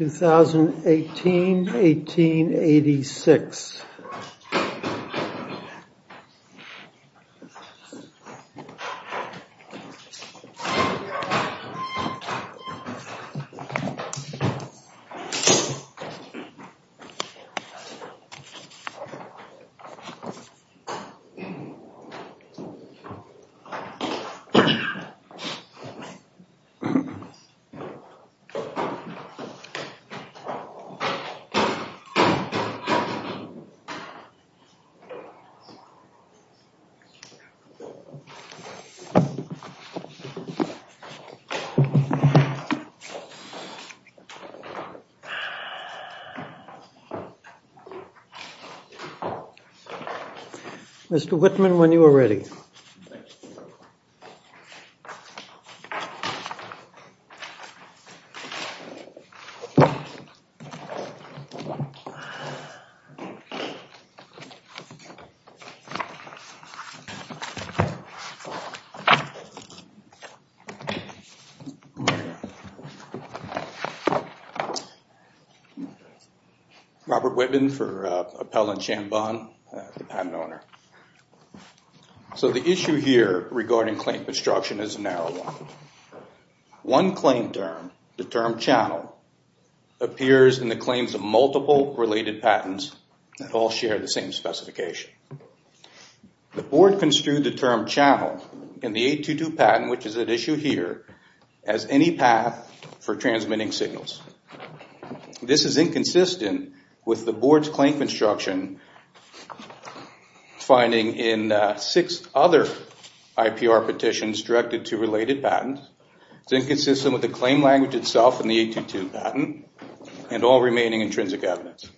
2018-18-86 Mr. Whitman, when you are ready. Thank you. Robert Whitman for Appel and Chambond, the patent owner. So the issue here regarding claim construction is a narrow one. One claim term, the term channel, appears in the claims of multiple related patents that all share the same specification. The board construed the term channel in the 822 patent, which is at issue here, as any path for transmitting signals. This is inconsistent with the board's claim construction finding in six other IPR petitions directed to related patents. It's inconsistent with the claim language itself in the 822 patent and all remaining intrinsic evidence.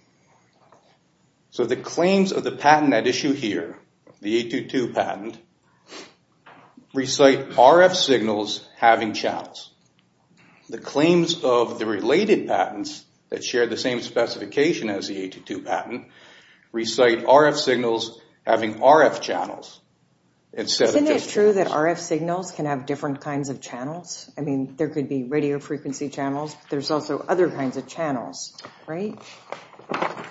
So the claims of the patent at issue here, the 822 patent, recite RF signals having channels. The claims of the related patents that share the same specification as the 822 patent, recite RF signals having RF channels. Isn't it true that RF signals can have different kinds of channels? I mean, there could be radio frequency channels, but there's also other kinds of channels, right?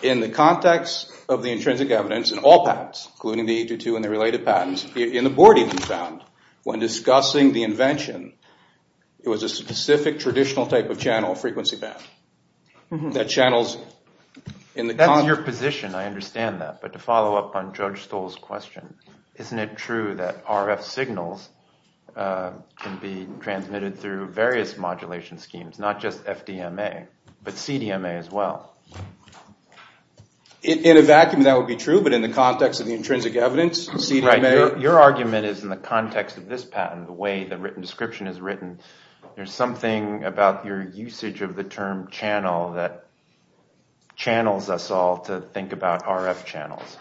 In the context of the intrinsic evidence in all patents, including the 822 and the related patents, in the board even found, when discussing the invention, it was a specific traditional type of channel, frequency band. That channels in the... That's your position. I understand that. But to follow up on Judge Stoll's question, isn't it true that RF signals can be transmitted through various modulation schemes, not just FDMA, but CDMA as well? In a vacuum, that would be true, but in the context of the intrinsic evidence, CDMA... Right. Your argument is in the context of this patent, the way the written description is written, there's something about your usage of the term channel that channels us all to think about RF channels,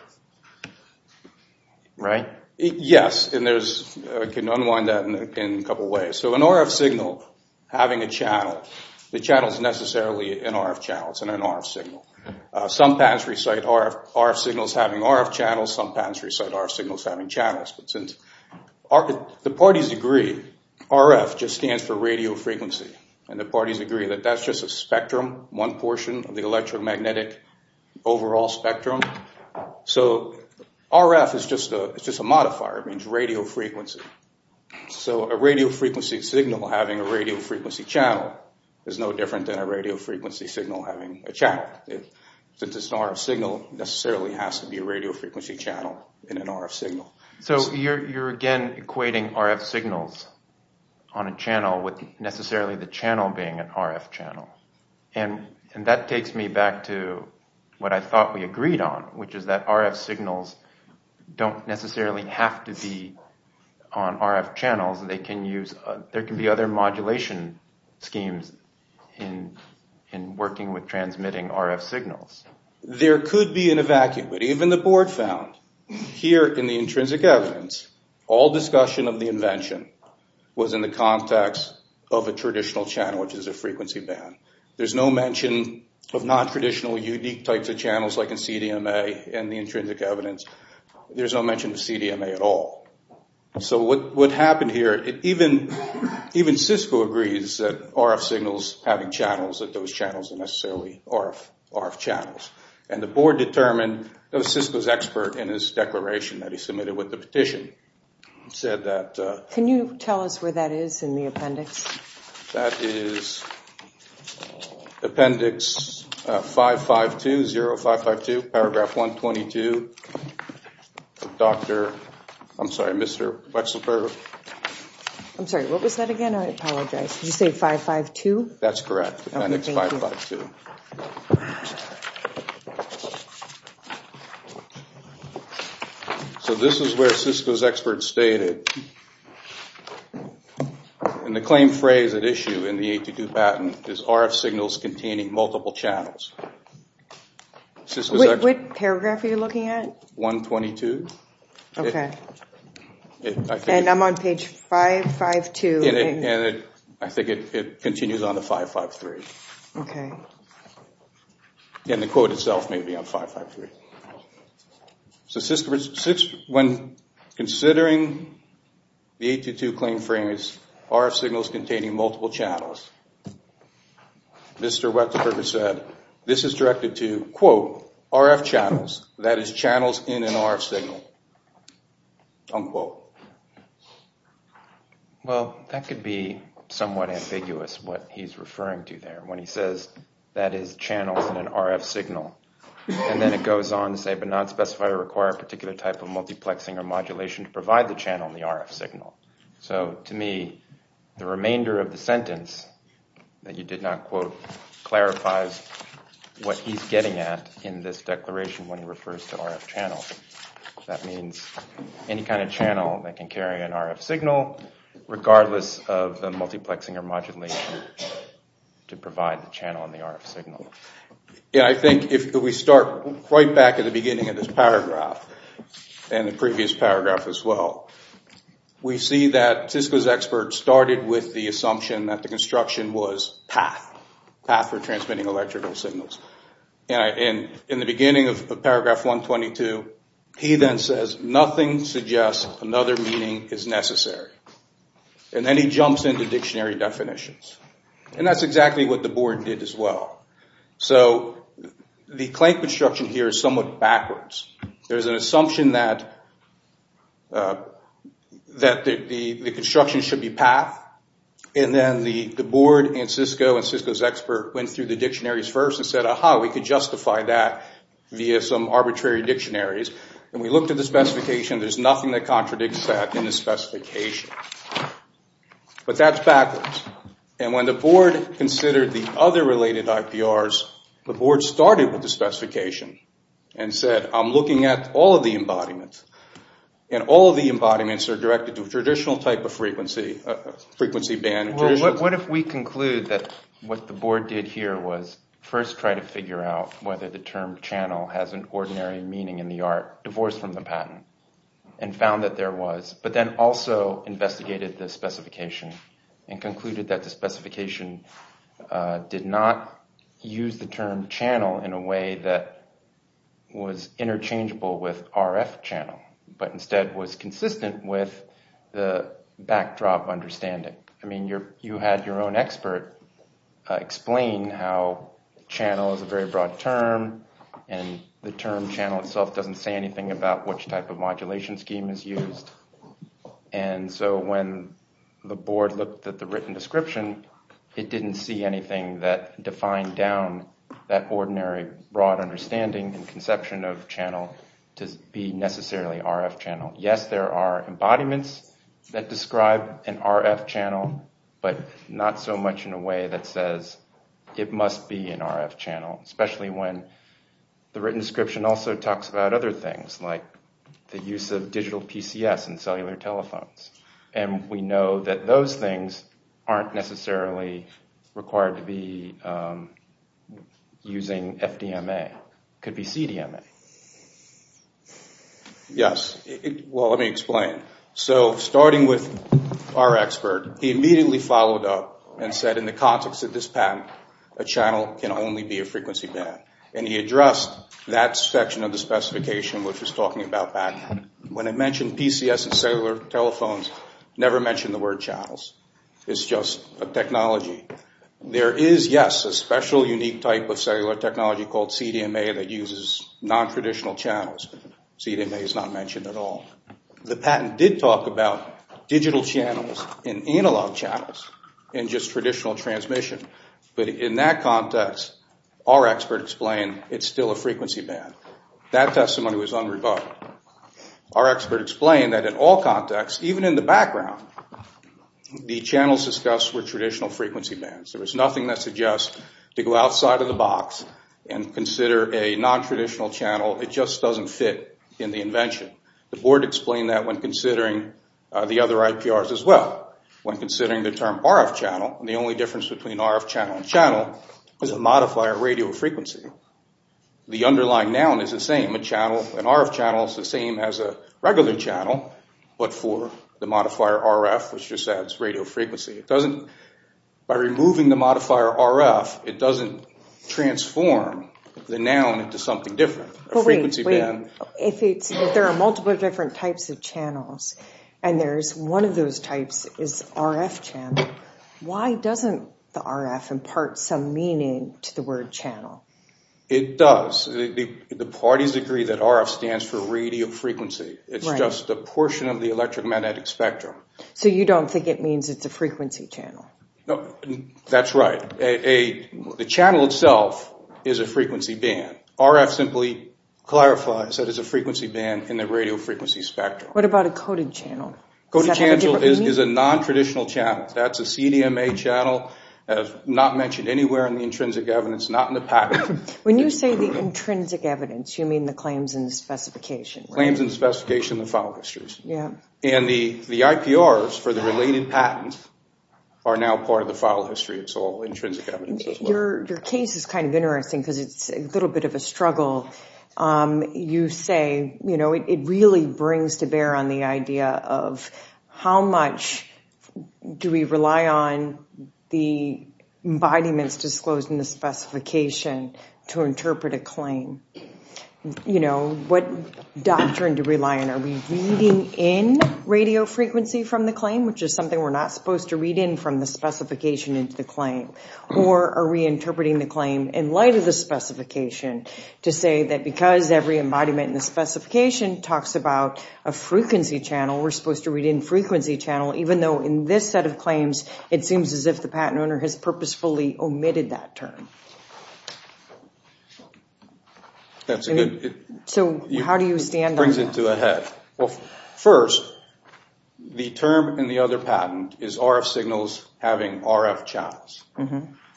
right? Yes, and there's... I can unwind that in a couple ways. So an RF signal having a channel, the channel is necessarily an RF channel. It's an RF signal. Some patents recite RF signals having RF channels. Some patents recite RF signals having channels. But since the parties agree, RF just stands for radio frequency, and the parties agree that that's just a spectrum, one portion of the electromagnetic overall spectrum. So RF is just a modifier. It means radio frequency. So a radio frequency signal having a radio frequency channel is no different than a radio frequency signal having a channel. Since it's an RF signal, it necessarily has to be a radio frequency channel in an RF signal. So you're again equating RF signals on a channel with necessarily the channel being an RF channel. And that takes me back to what I thought we agreed on, which is that RF signals don't necessarily have to be on RF channels. There can be other modulation schemes in working with transmitting RF signals. There could be an evacuate. Even the board found here in the intrinsic evidence, all discussion of the invention was in the context of a traditional channel, which is a frequency band. There's no mention of non-traditional unique types of channels like in CDMA and the intrinsic evidence. There's no mention of CDMA at all. So what happened here, even Cisco agrees that RF signals having channels, that those channels are necessarily RF channels. And the board determined that Cisco's expert in his declaration that he submitted with the petition said that. Can you tell us where that is in the appendix? That is appendix 5520552, paragraph 122. Doctor, I'm sorry, Mr. Wechsler. I'm sorry, what was that again? I apologize. Did you say 552? That's correct, appendix 552. So this is where Cisco's expert stated. And the claim phrase at issue in the 82 patent is RF signals containing multiple channels. Which paragraph are you looking at? 122. Okay. And I'm on page 552. I think it continues on to 553. Okay. And the quote itself may be on 553. So when considering the 822 claim phrase, RF signals containing multiple channels, Mr. Wechsler said, this is directed to, quote, RF channels, that is channels in an RF signal, unquote. Well, that could be somewhat ambiguous what he's referring to there when he says that is channels in an RF signal. And then it goes on to say, but not specify or require a particular type of multiplexing or modulation to provide the channel in the RF signal. So to me, the remainder of the sentence that you did not quote clarifies what he's getting at in this declaration when he refers to RF channels. That means any kind of channel that can carry an RF signal regardless of the multiplexing or modulation to provide the channel in the RF signal. Yeah, I think if we start right back at the beginning of this paragraph and the previous paragraph as well, we see that Cisco's expert started with the assumption that the construction was path, path for transmitting electrical signals. And in the beginning of paragraph 122, he then says, nothing suggests another meaning is necessary. And then he jumps into dictionary definitions. And that's exactly what the board did as well. So the claim construction here is somewhat backwards. There's an assumption that the construction should be path. And then the board and Cisco and Cisco's expert went through the dictionaries first and said, aha, we could justify that via some arbitrary dictionaries. And we looked at the specification. There's nothing that contradicts that in the specification. But that's backwards. And when the board considered the other related IPRs, the board started with the specification and said, I'm looking at all of the embodiments. And all of the embodiments are directed to a traditional type of frequency, frequency band. What if we conclude that what the board did here was first try to figure out whether the term channel has an ordinary meaning in the art, divorced from the patent, and found that there was, but then also investigated the specification and concluded that the specification did not use the term channel in a way that was interchangeable with RF channel, but instead was consistent with the backdrop understanding. I mean, you had your own expert explain how channel is a very broad term. And the term channel itself doesn't say anything about which type of modulation scheme is used. And so when the board looked at the written description, it didn't see anything that defined down that ordinary broad understanding and conception of channel to be necessarily RF channel. Yes, there are embodiments that describe an RF channel, but not so much in a way that says it must be an RF channel, especially when the written description also talks about other things like the use of digital PCS and cellular telephones. And we know that those things aren't necessarily required to be using FDMA. It could be CDMA. Yes. Well, let me explain. So starting with our expert, he immediately followed up and said, in the context of this patent, a channel can only be a frequency band. And he addressed that section of the specification which was talking about that. When I mentioned PCS and cellular telephones, never mention the word channels. It's just a technology. There is, yes, a special unique type of cellular technology called CDMA that uses nontraditional channels. CDMA is not mentioned at all. The patent did talk about digital channels and analog channels and just traditional transmission. But in that context, our expert explained it's still a frequency band. That testimony was unrebutted. Our expert explained that in all contexts, even in the background, the channels discussed were traditional frequency bands. There was nothing that suggests to go outside of the box and consider a nontraditional channel. It just doesn't fit in the invention. The board explained that when considering the other IPRs as well. When considering the term RF channel, the only difference between RF channel and channel is the modifier radio frequency. The underlying noun is the same. An RF channel is the same as a regular channel, but for the modifier RF, which just adds radio frequency. By removing the modifier RF, it doesn't transform the noun into something different. If there are multiple different types of channels and one of those types is RF channel, why doesn't the RF impart some meaning to the word channel? It does. The parties agree that RF stands for radio frequency. It's just a portion of the electromagnetic spectrum. So you don't think it means it's a frequency channel? That's right. The channel itself is a frequency band. RF simply clarifies that it's a frequency band in the radio frequency spectrum. What about a coded channel? Coded channel is a nontraditional channel. That's a CDMA channel, not mentioned anywhere in the intrinsic evidence, not in the patent. When you say the intrinsic evidence, you mean the claims and the specification, right? Claims and specification and the file histories. And the IPRs for the related patents are now part of the file history. It's all intrinsic evidence as well. Your case is kind of interesting because it's a little bit of a struggle. You say it really brings to bear on the idea of how much do we rely on the embodiments disclosed in the specification to interpret a claim? What doctrine do we rely on? Are we reading in radio frequency from the claim, which is something we're not supposed to read in from the specification into the claim? Or are we interpreting the claim in light of the specification to say that because every embodiment in the specification talks about a frequency channel, we're supposed to read in frequency channel, even though in this set of claims, it seems as if the patent owner has purposefully omitted that term. So how do you stand on that? First, the term in the other patent is RF signals having RF channels.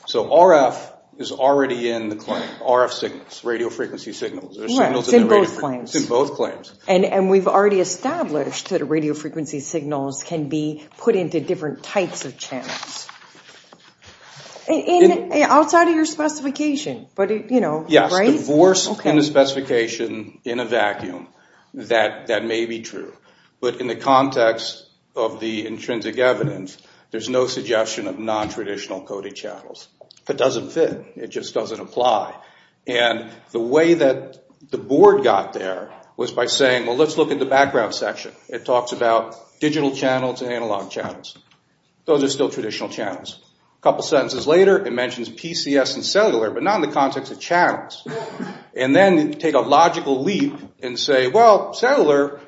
So RF is already in the claim, RF signals, radio frequency signals. Right, it's in both claims. It's in both claims. And we've already established that radio frequency signals can be put into different types of channels. Outside of your specification, but you know, right? If it's divorced from the specification in a vacuum, that may be true. But in the context of the intrinsic evidence, there's no suggestion of nontraditional coded channels. It doesn't fit. It just doesn't apply. And the way that the board got there was by saying, well, let's look at the background section. It talks about digital channels and analog channels. Those are still traditional channels. A couple sentences later, it mentions PCS and cellular, but not in the context of channels. And then take a logical leap and say, well, cellular,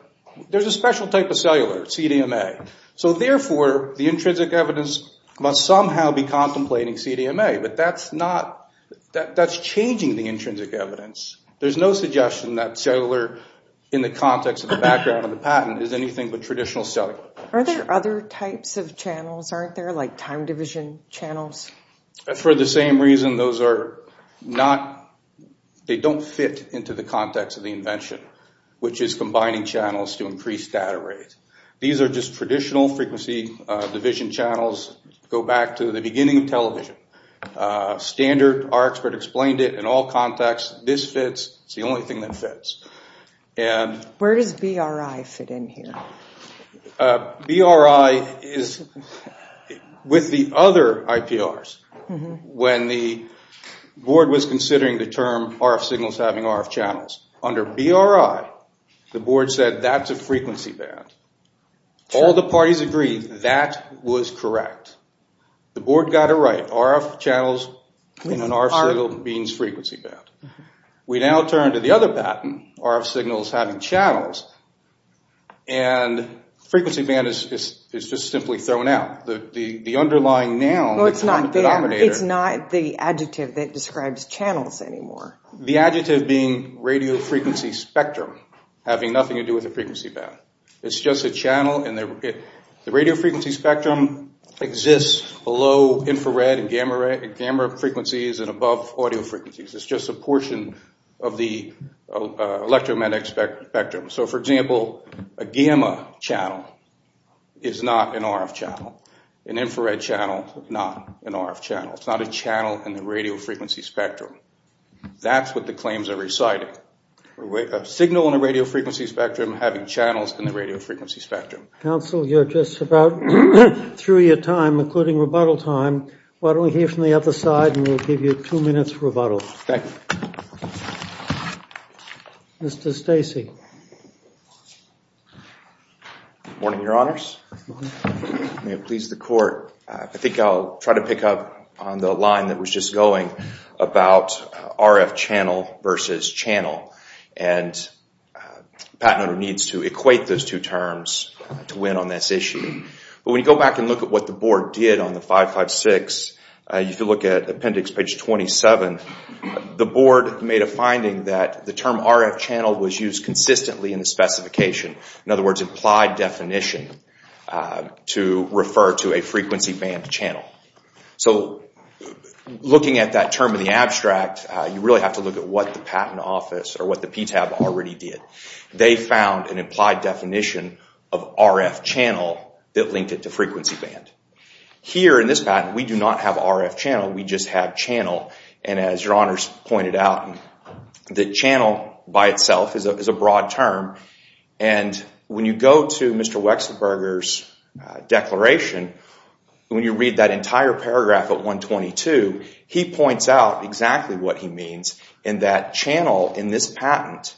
there's a special type of cellular, CDMA. So therefore, the intrinsic evidence must somehow be contemplating CDMA. But that's changing the intrinsic evidence. There's no suggestion that cellular in the context of the background of the patent is anything but traditional cellular. Are there other types of channels? Aren't there like time division channels? For the same reason, those are not, they don't fit into the context of the invention, which is combining channels to increase data rate. These are just traditional frequency division channels. Go back to the beginning of television. Standard, our expert explained it in all contexts. This fits. It's the only thing that fits. Where does BRI fit in here? BRI is with the other IPRs. When the board was considering the term RF signals having RF channels, under BRI, the board said that's a frequency band. All the parties agreed that was correct. The board got it right. RF channels in an RF signal means frequency band. We now turn to the other patent, RF signals having channels, and frequency band is just simply thrown out. The underlying noun, the common denominator. Well, it's not there. It's not the adjective that describes channels anymore. The adjective being radio frequency spectrum having nothing to do with the frequency band. It's just a channel, and the radio frequency spectrum exists below infrared and gamma frequencies and above audio frequencies. It's just a portion of the electromagnetic spectrum. So, for example, a gamma channel is not an RF channel. An infrared channel is not an RF channel. It's not a channel in the radio frequency spectrum. That's what the claims are reciting. A signal in a radio frequency spectrum having channels in the radio frequency spectrum. Counsel, you're just about through your time, including rebuttal time. Why don't we hear from the other side, and we'll give you two minutes for rebuttal. Thank you. Mr. Stacey. Good morning, Your Honors. May it please the court, I think I'll try to pick up on the line that was just going about RF channel versus channel. And the patent owner needs to equate those two terms to win on this issue. But when you go back and look at what the board did on the 556, if you look at appendix page 27, the board made a finding that the term RF channel was used consistently in the specification. In other words, implied definition to refer to a frequency band channel. So looking at that term in the abstract, you really have to look at what the patent office or what the PTAB already did. They found an implied definition of RF channel that linked it to frequency band. Here in this patent, we do not have RF channel, we just have channel. And as Your Honors pointed out, the channel by itself is a broad term. And when you go to Mr. Wexlerberger's declaration, when you read that entire paragraph at 122, he points out exactly what he means in that channel in this patent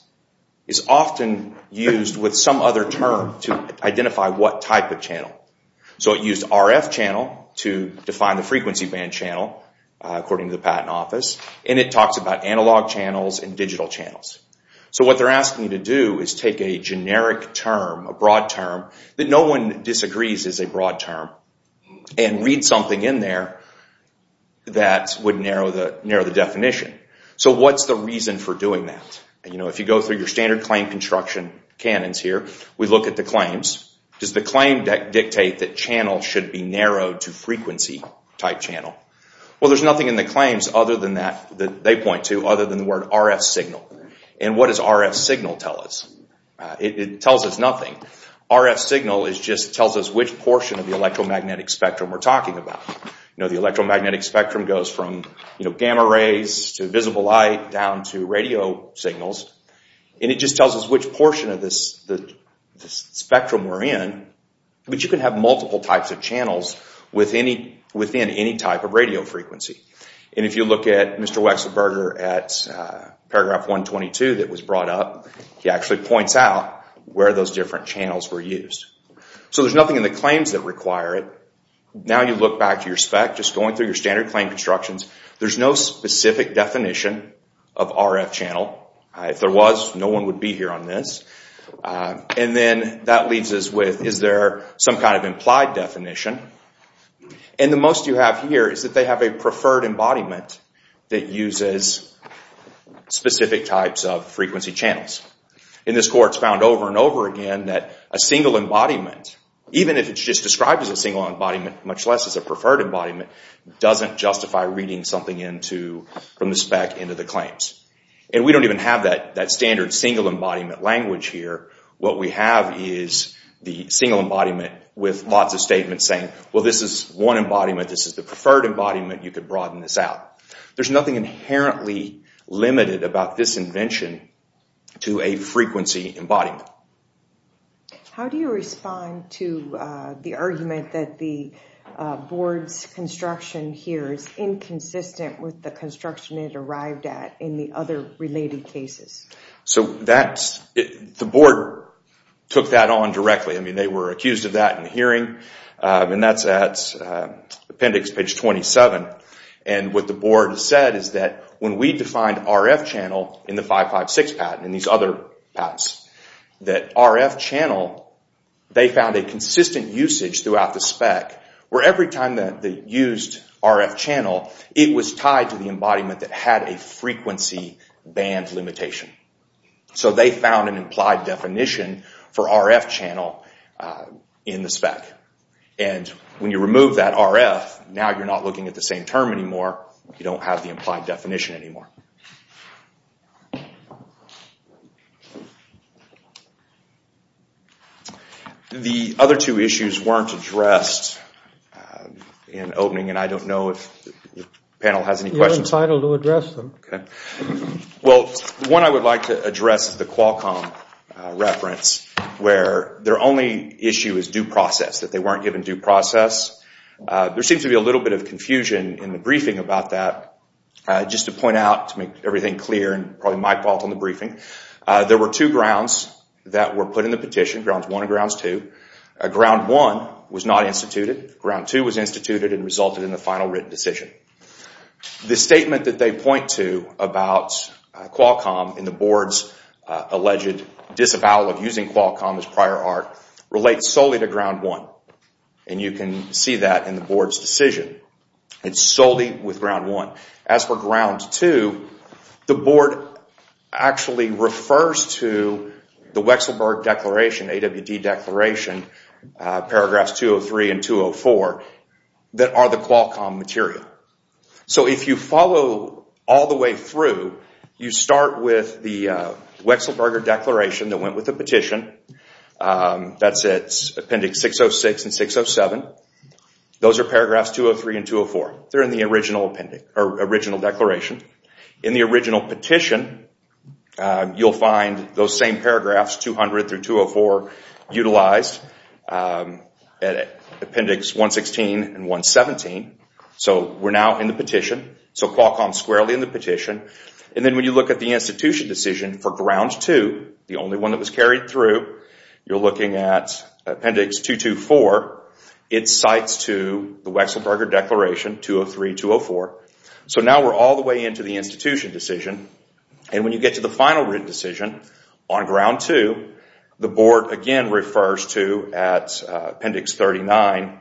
is often used with some other term to identify what type of channel. So it used RF channel to define the frequency band channel, according to the patent office. And it talks about analog channels and digital channels. So what they're asking you to do is take a generic term, a broad term, that no one disagrees is a broad term, and read something in there that would narrow the definition. So what's the reason for doing that? If you go through your standard claim construction canons here, we look at the claims. Does the claim dictate that channel should be narrowed to frequency type channel? Well, there's nothing in the claims that they point to other than the word RF signal. And what does RF signal tell us? It tells us nothing. RF signal just tells us which portion of the electromagnetic spectrum we're talking about. The electromagnetic spectrum goes from gamma rays to visible light down to radio signals. And it just tells us which portion of this spectrum we're in. But you can have multiple types of channels within any type of radio frequency. And if you look at Mr. Wechslerberger at paragraph 122 that was brought up, he actually points out where those different channels were used. So there's nothing in the claims that require it. Now you look back to your spec, just going through your standard claim constructions, there's no specific definition of RF channel. If there was, no one would be here on this. And then that leaves us with, is there some kind of implied definition? And the most you have here is that they have a preferred embodiment that uses specific types of frequency channels. In this court, it's found over and over again that a single embodiment, even if it's just described as a single embodiment, much less as a preferred embodiment, doesn't justify reading something from the spec into the claims. And we don't even have that standard single embodiment language here. What we have is the single embodiment with lots of statements saying, well this is one embodiment, this is the preferred embodiment, you can broaden this out. There's nothing inherently limited about this invention to a frequency embodiment. How do you respond to the argument that the board's construction here is inconsistent with the construction it arrived at in the other related cases? The board took that on directly. They were accused of that in the hearing, and that's at appendix page 27. And what the board said is that when we defined RF channel in the 556 patent, and these other patents, that RF channel, they found a consistent usage throughout the spec, where every time that they used RF channel, it was tied to the embodiment that had a frequency band limitation. So they found an implied definition for RF channel in the spec. And when you remove that RF, now you're not looking at the same term anymore, you don't have the implied definition anymore. The other two issues weren't addressed in opening, and I don't know if the panel has any questions. You're entitled to address them. Okay. Well, the one I would like to address is the Qualcomm reference, where their only issue is due process, that they weren't given due process. There seems to be a little bit of confusion in the briefing about that. Just to point out, to make everything clear, and probably my fault on the briefing, there were two grounds that were put in the petition, Grounds 1 and Grounds 2. Ground 1 was not instituted. Ground 2 was instituted and resulted in the final written decision. The statement that they point to about Qualcomm in the board's alleged disavowal of using Qualcomm as prior art relates solely to Ground 1. And you can see that in the board's decision. It's solely with Ground 1. As for Ground 2, the board actually refers to the Wechselberger Declaration, AWD Declaration, paragraphs 203 and 204, that are the Qualcomm material. So if you follow all the way through, you start with the Wechselberger Declaration that went with the petition. That's Appendix 606 and 607. Those are paragraphs 203 and 204. They're in the original declaration. In the original petition, you'll find those same paragraphs, 200 through 204, utilized at Appendix 116 and 117. So we're now in the petition. So Qualcomm's squarely in the petition. And then when you look at the institution decision for Ground 2, the only one that was carried through, you're looking at Appendix 224. It cites to the Wechselberger Declaration, 203, 204. So now we're all the way into the institution decision. And when you get to the final written decision on Ground 2, the board again refers to, at Appendix 39,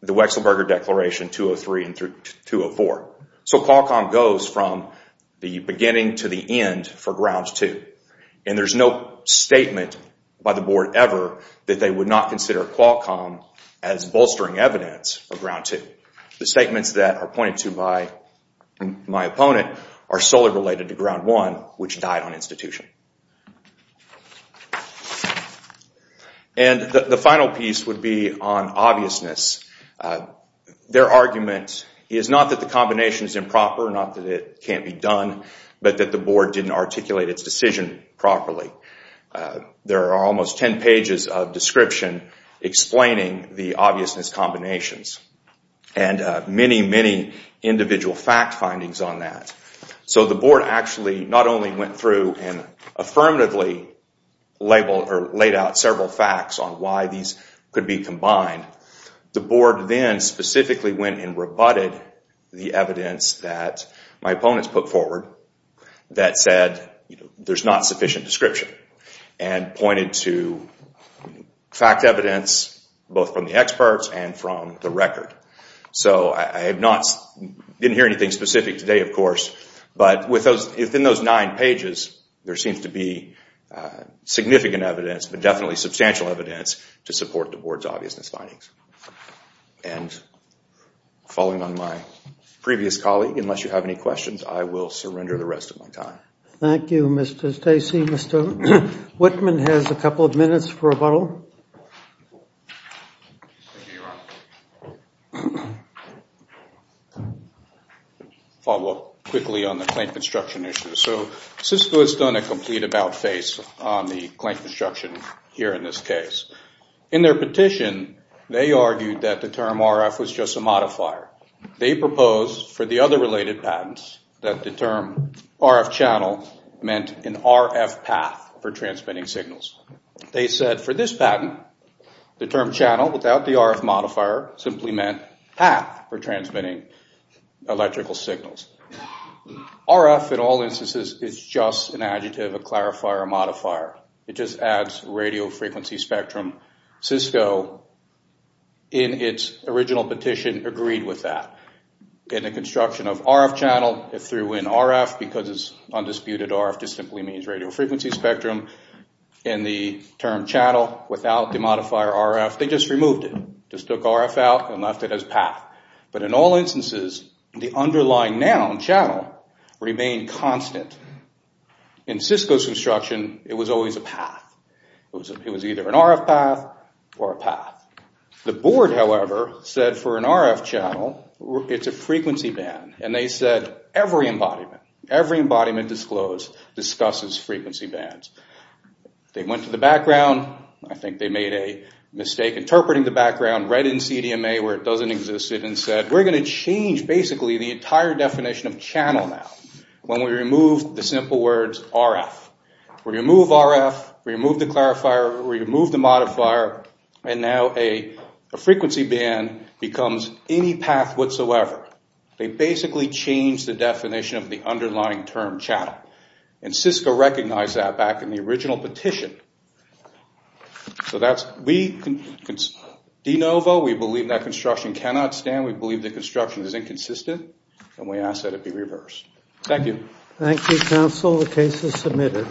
the Wechselberger Declaration, 203 and 204. So Qualcomm goes from the beginning to the end for Ground 2. And there's no statement by the board ever that they would not consider Qualcomm as bolstering evidence for Ground 2. The statements that are pointed to by my opponent are solely related to Ground 1, which died on institution. And the final piece would be on obviousness. Their argument is not that the combination is improper, not that it can't be done, but that the board didn't articulate its decision properly. There are almost 10 pages of description explaining the obviousness combinations and many, many individual fact findings on that. So the board actually not only went through and affirmatively laid out several facts on why these could be combined. The board then specifically went and rebutted the evidence that my opponents put forward that said there's not sufficient description and pointed to fact evidence both from the experts and from the record. So I didn't hear anything specific today, of course, but within those nine pages there seems to be significant evidence, but definitely substantial evidence to support the board's obviousness findings. And following on my previous colleague, unless you have any questions, I will surrender the rest of my time. Thank you, Mr. Stacey. Mr. Whitman has a couple of minutes for rebuttal. Follow up quickly on the claim construction issue. So Cisco has done a complete about-face on the claim construction here in this case. In their petition, they argued that the term RF was just a modifier. They proposed for the other related patents that the term RF channel meant an RF path for transmitting signals. They said for this patent, the term channel without the RF modifier simply meant path for transmitting electrical signals. RF, in all instances, is just an adjective, a clarifier, a modifier. It just adds radio frequency spectrum. Cisco, in its original petition, agreed with that. In the construction of RF channel, it threw in RF because it's undisputed RF just simply means radio frequency spectrum. In the term channel without the modifier RF, they just removed it, just took RF out and left it as path. But in all instances, the underlying noun, channel, remained constant. In Cisco's construction, it was always a path. It was either an RF path or a path. The board, however, said for an RF channel, it's a frequency band. And they said every embodiment, every embodiment disclosed discusses frequency bands. They went to the background. I think they made a mistake interpreting the background, read in CDMA where it doesn't exist and said, we're going to change basically the entire definition of channel now when we remove the simple words RF. We remove RF, we remove the clarifier, we remove the modifier, and now a frequency band becomes any path whatsoever. They basically changed the definition of the underlying term channel. And Cisco recognized that back in the original petition. So that's we, DeNovo. We believe that construction cannot stand. We believe that construction is inconsistent, and we ask that it be reversed. Thank you. Thank you, counsel. The case is submitted.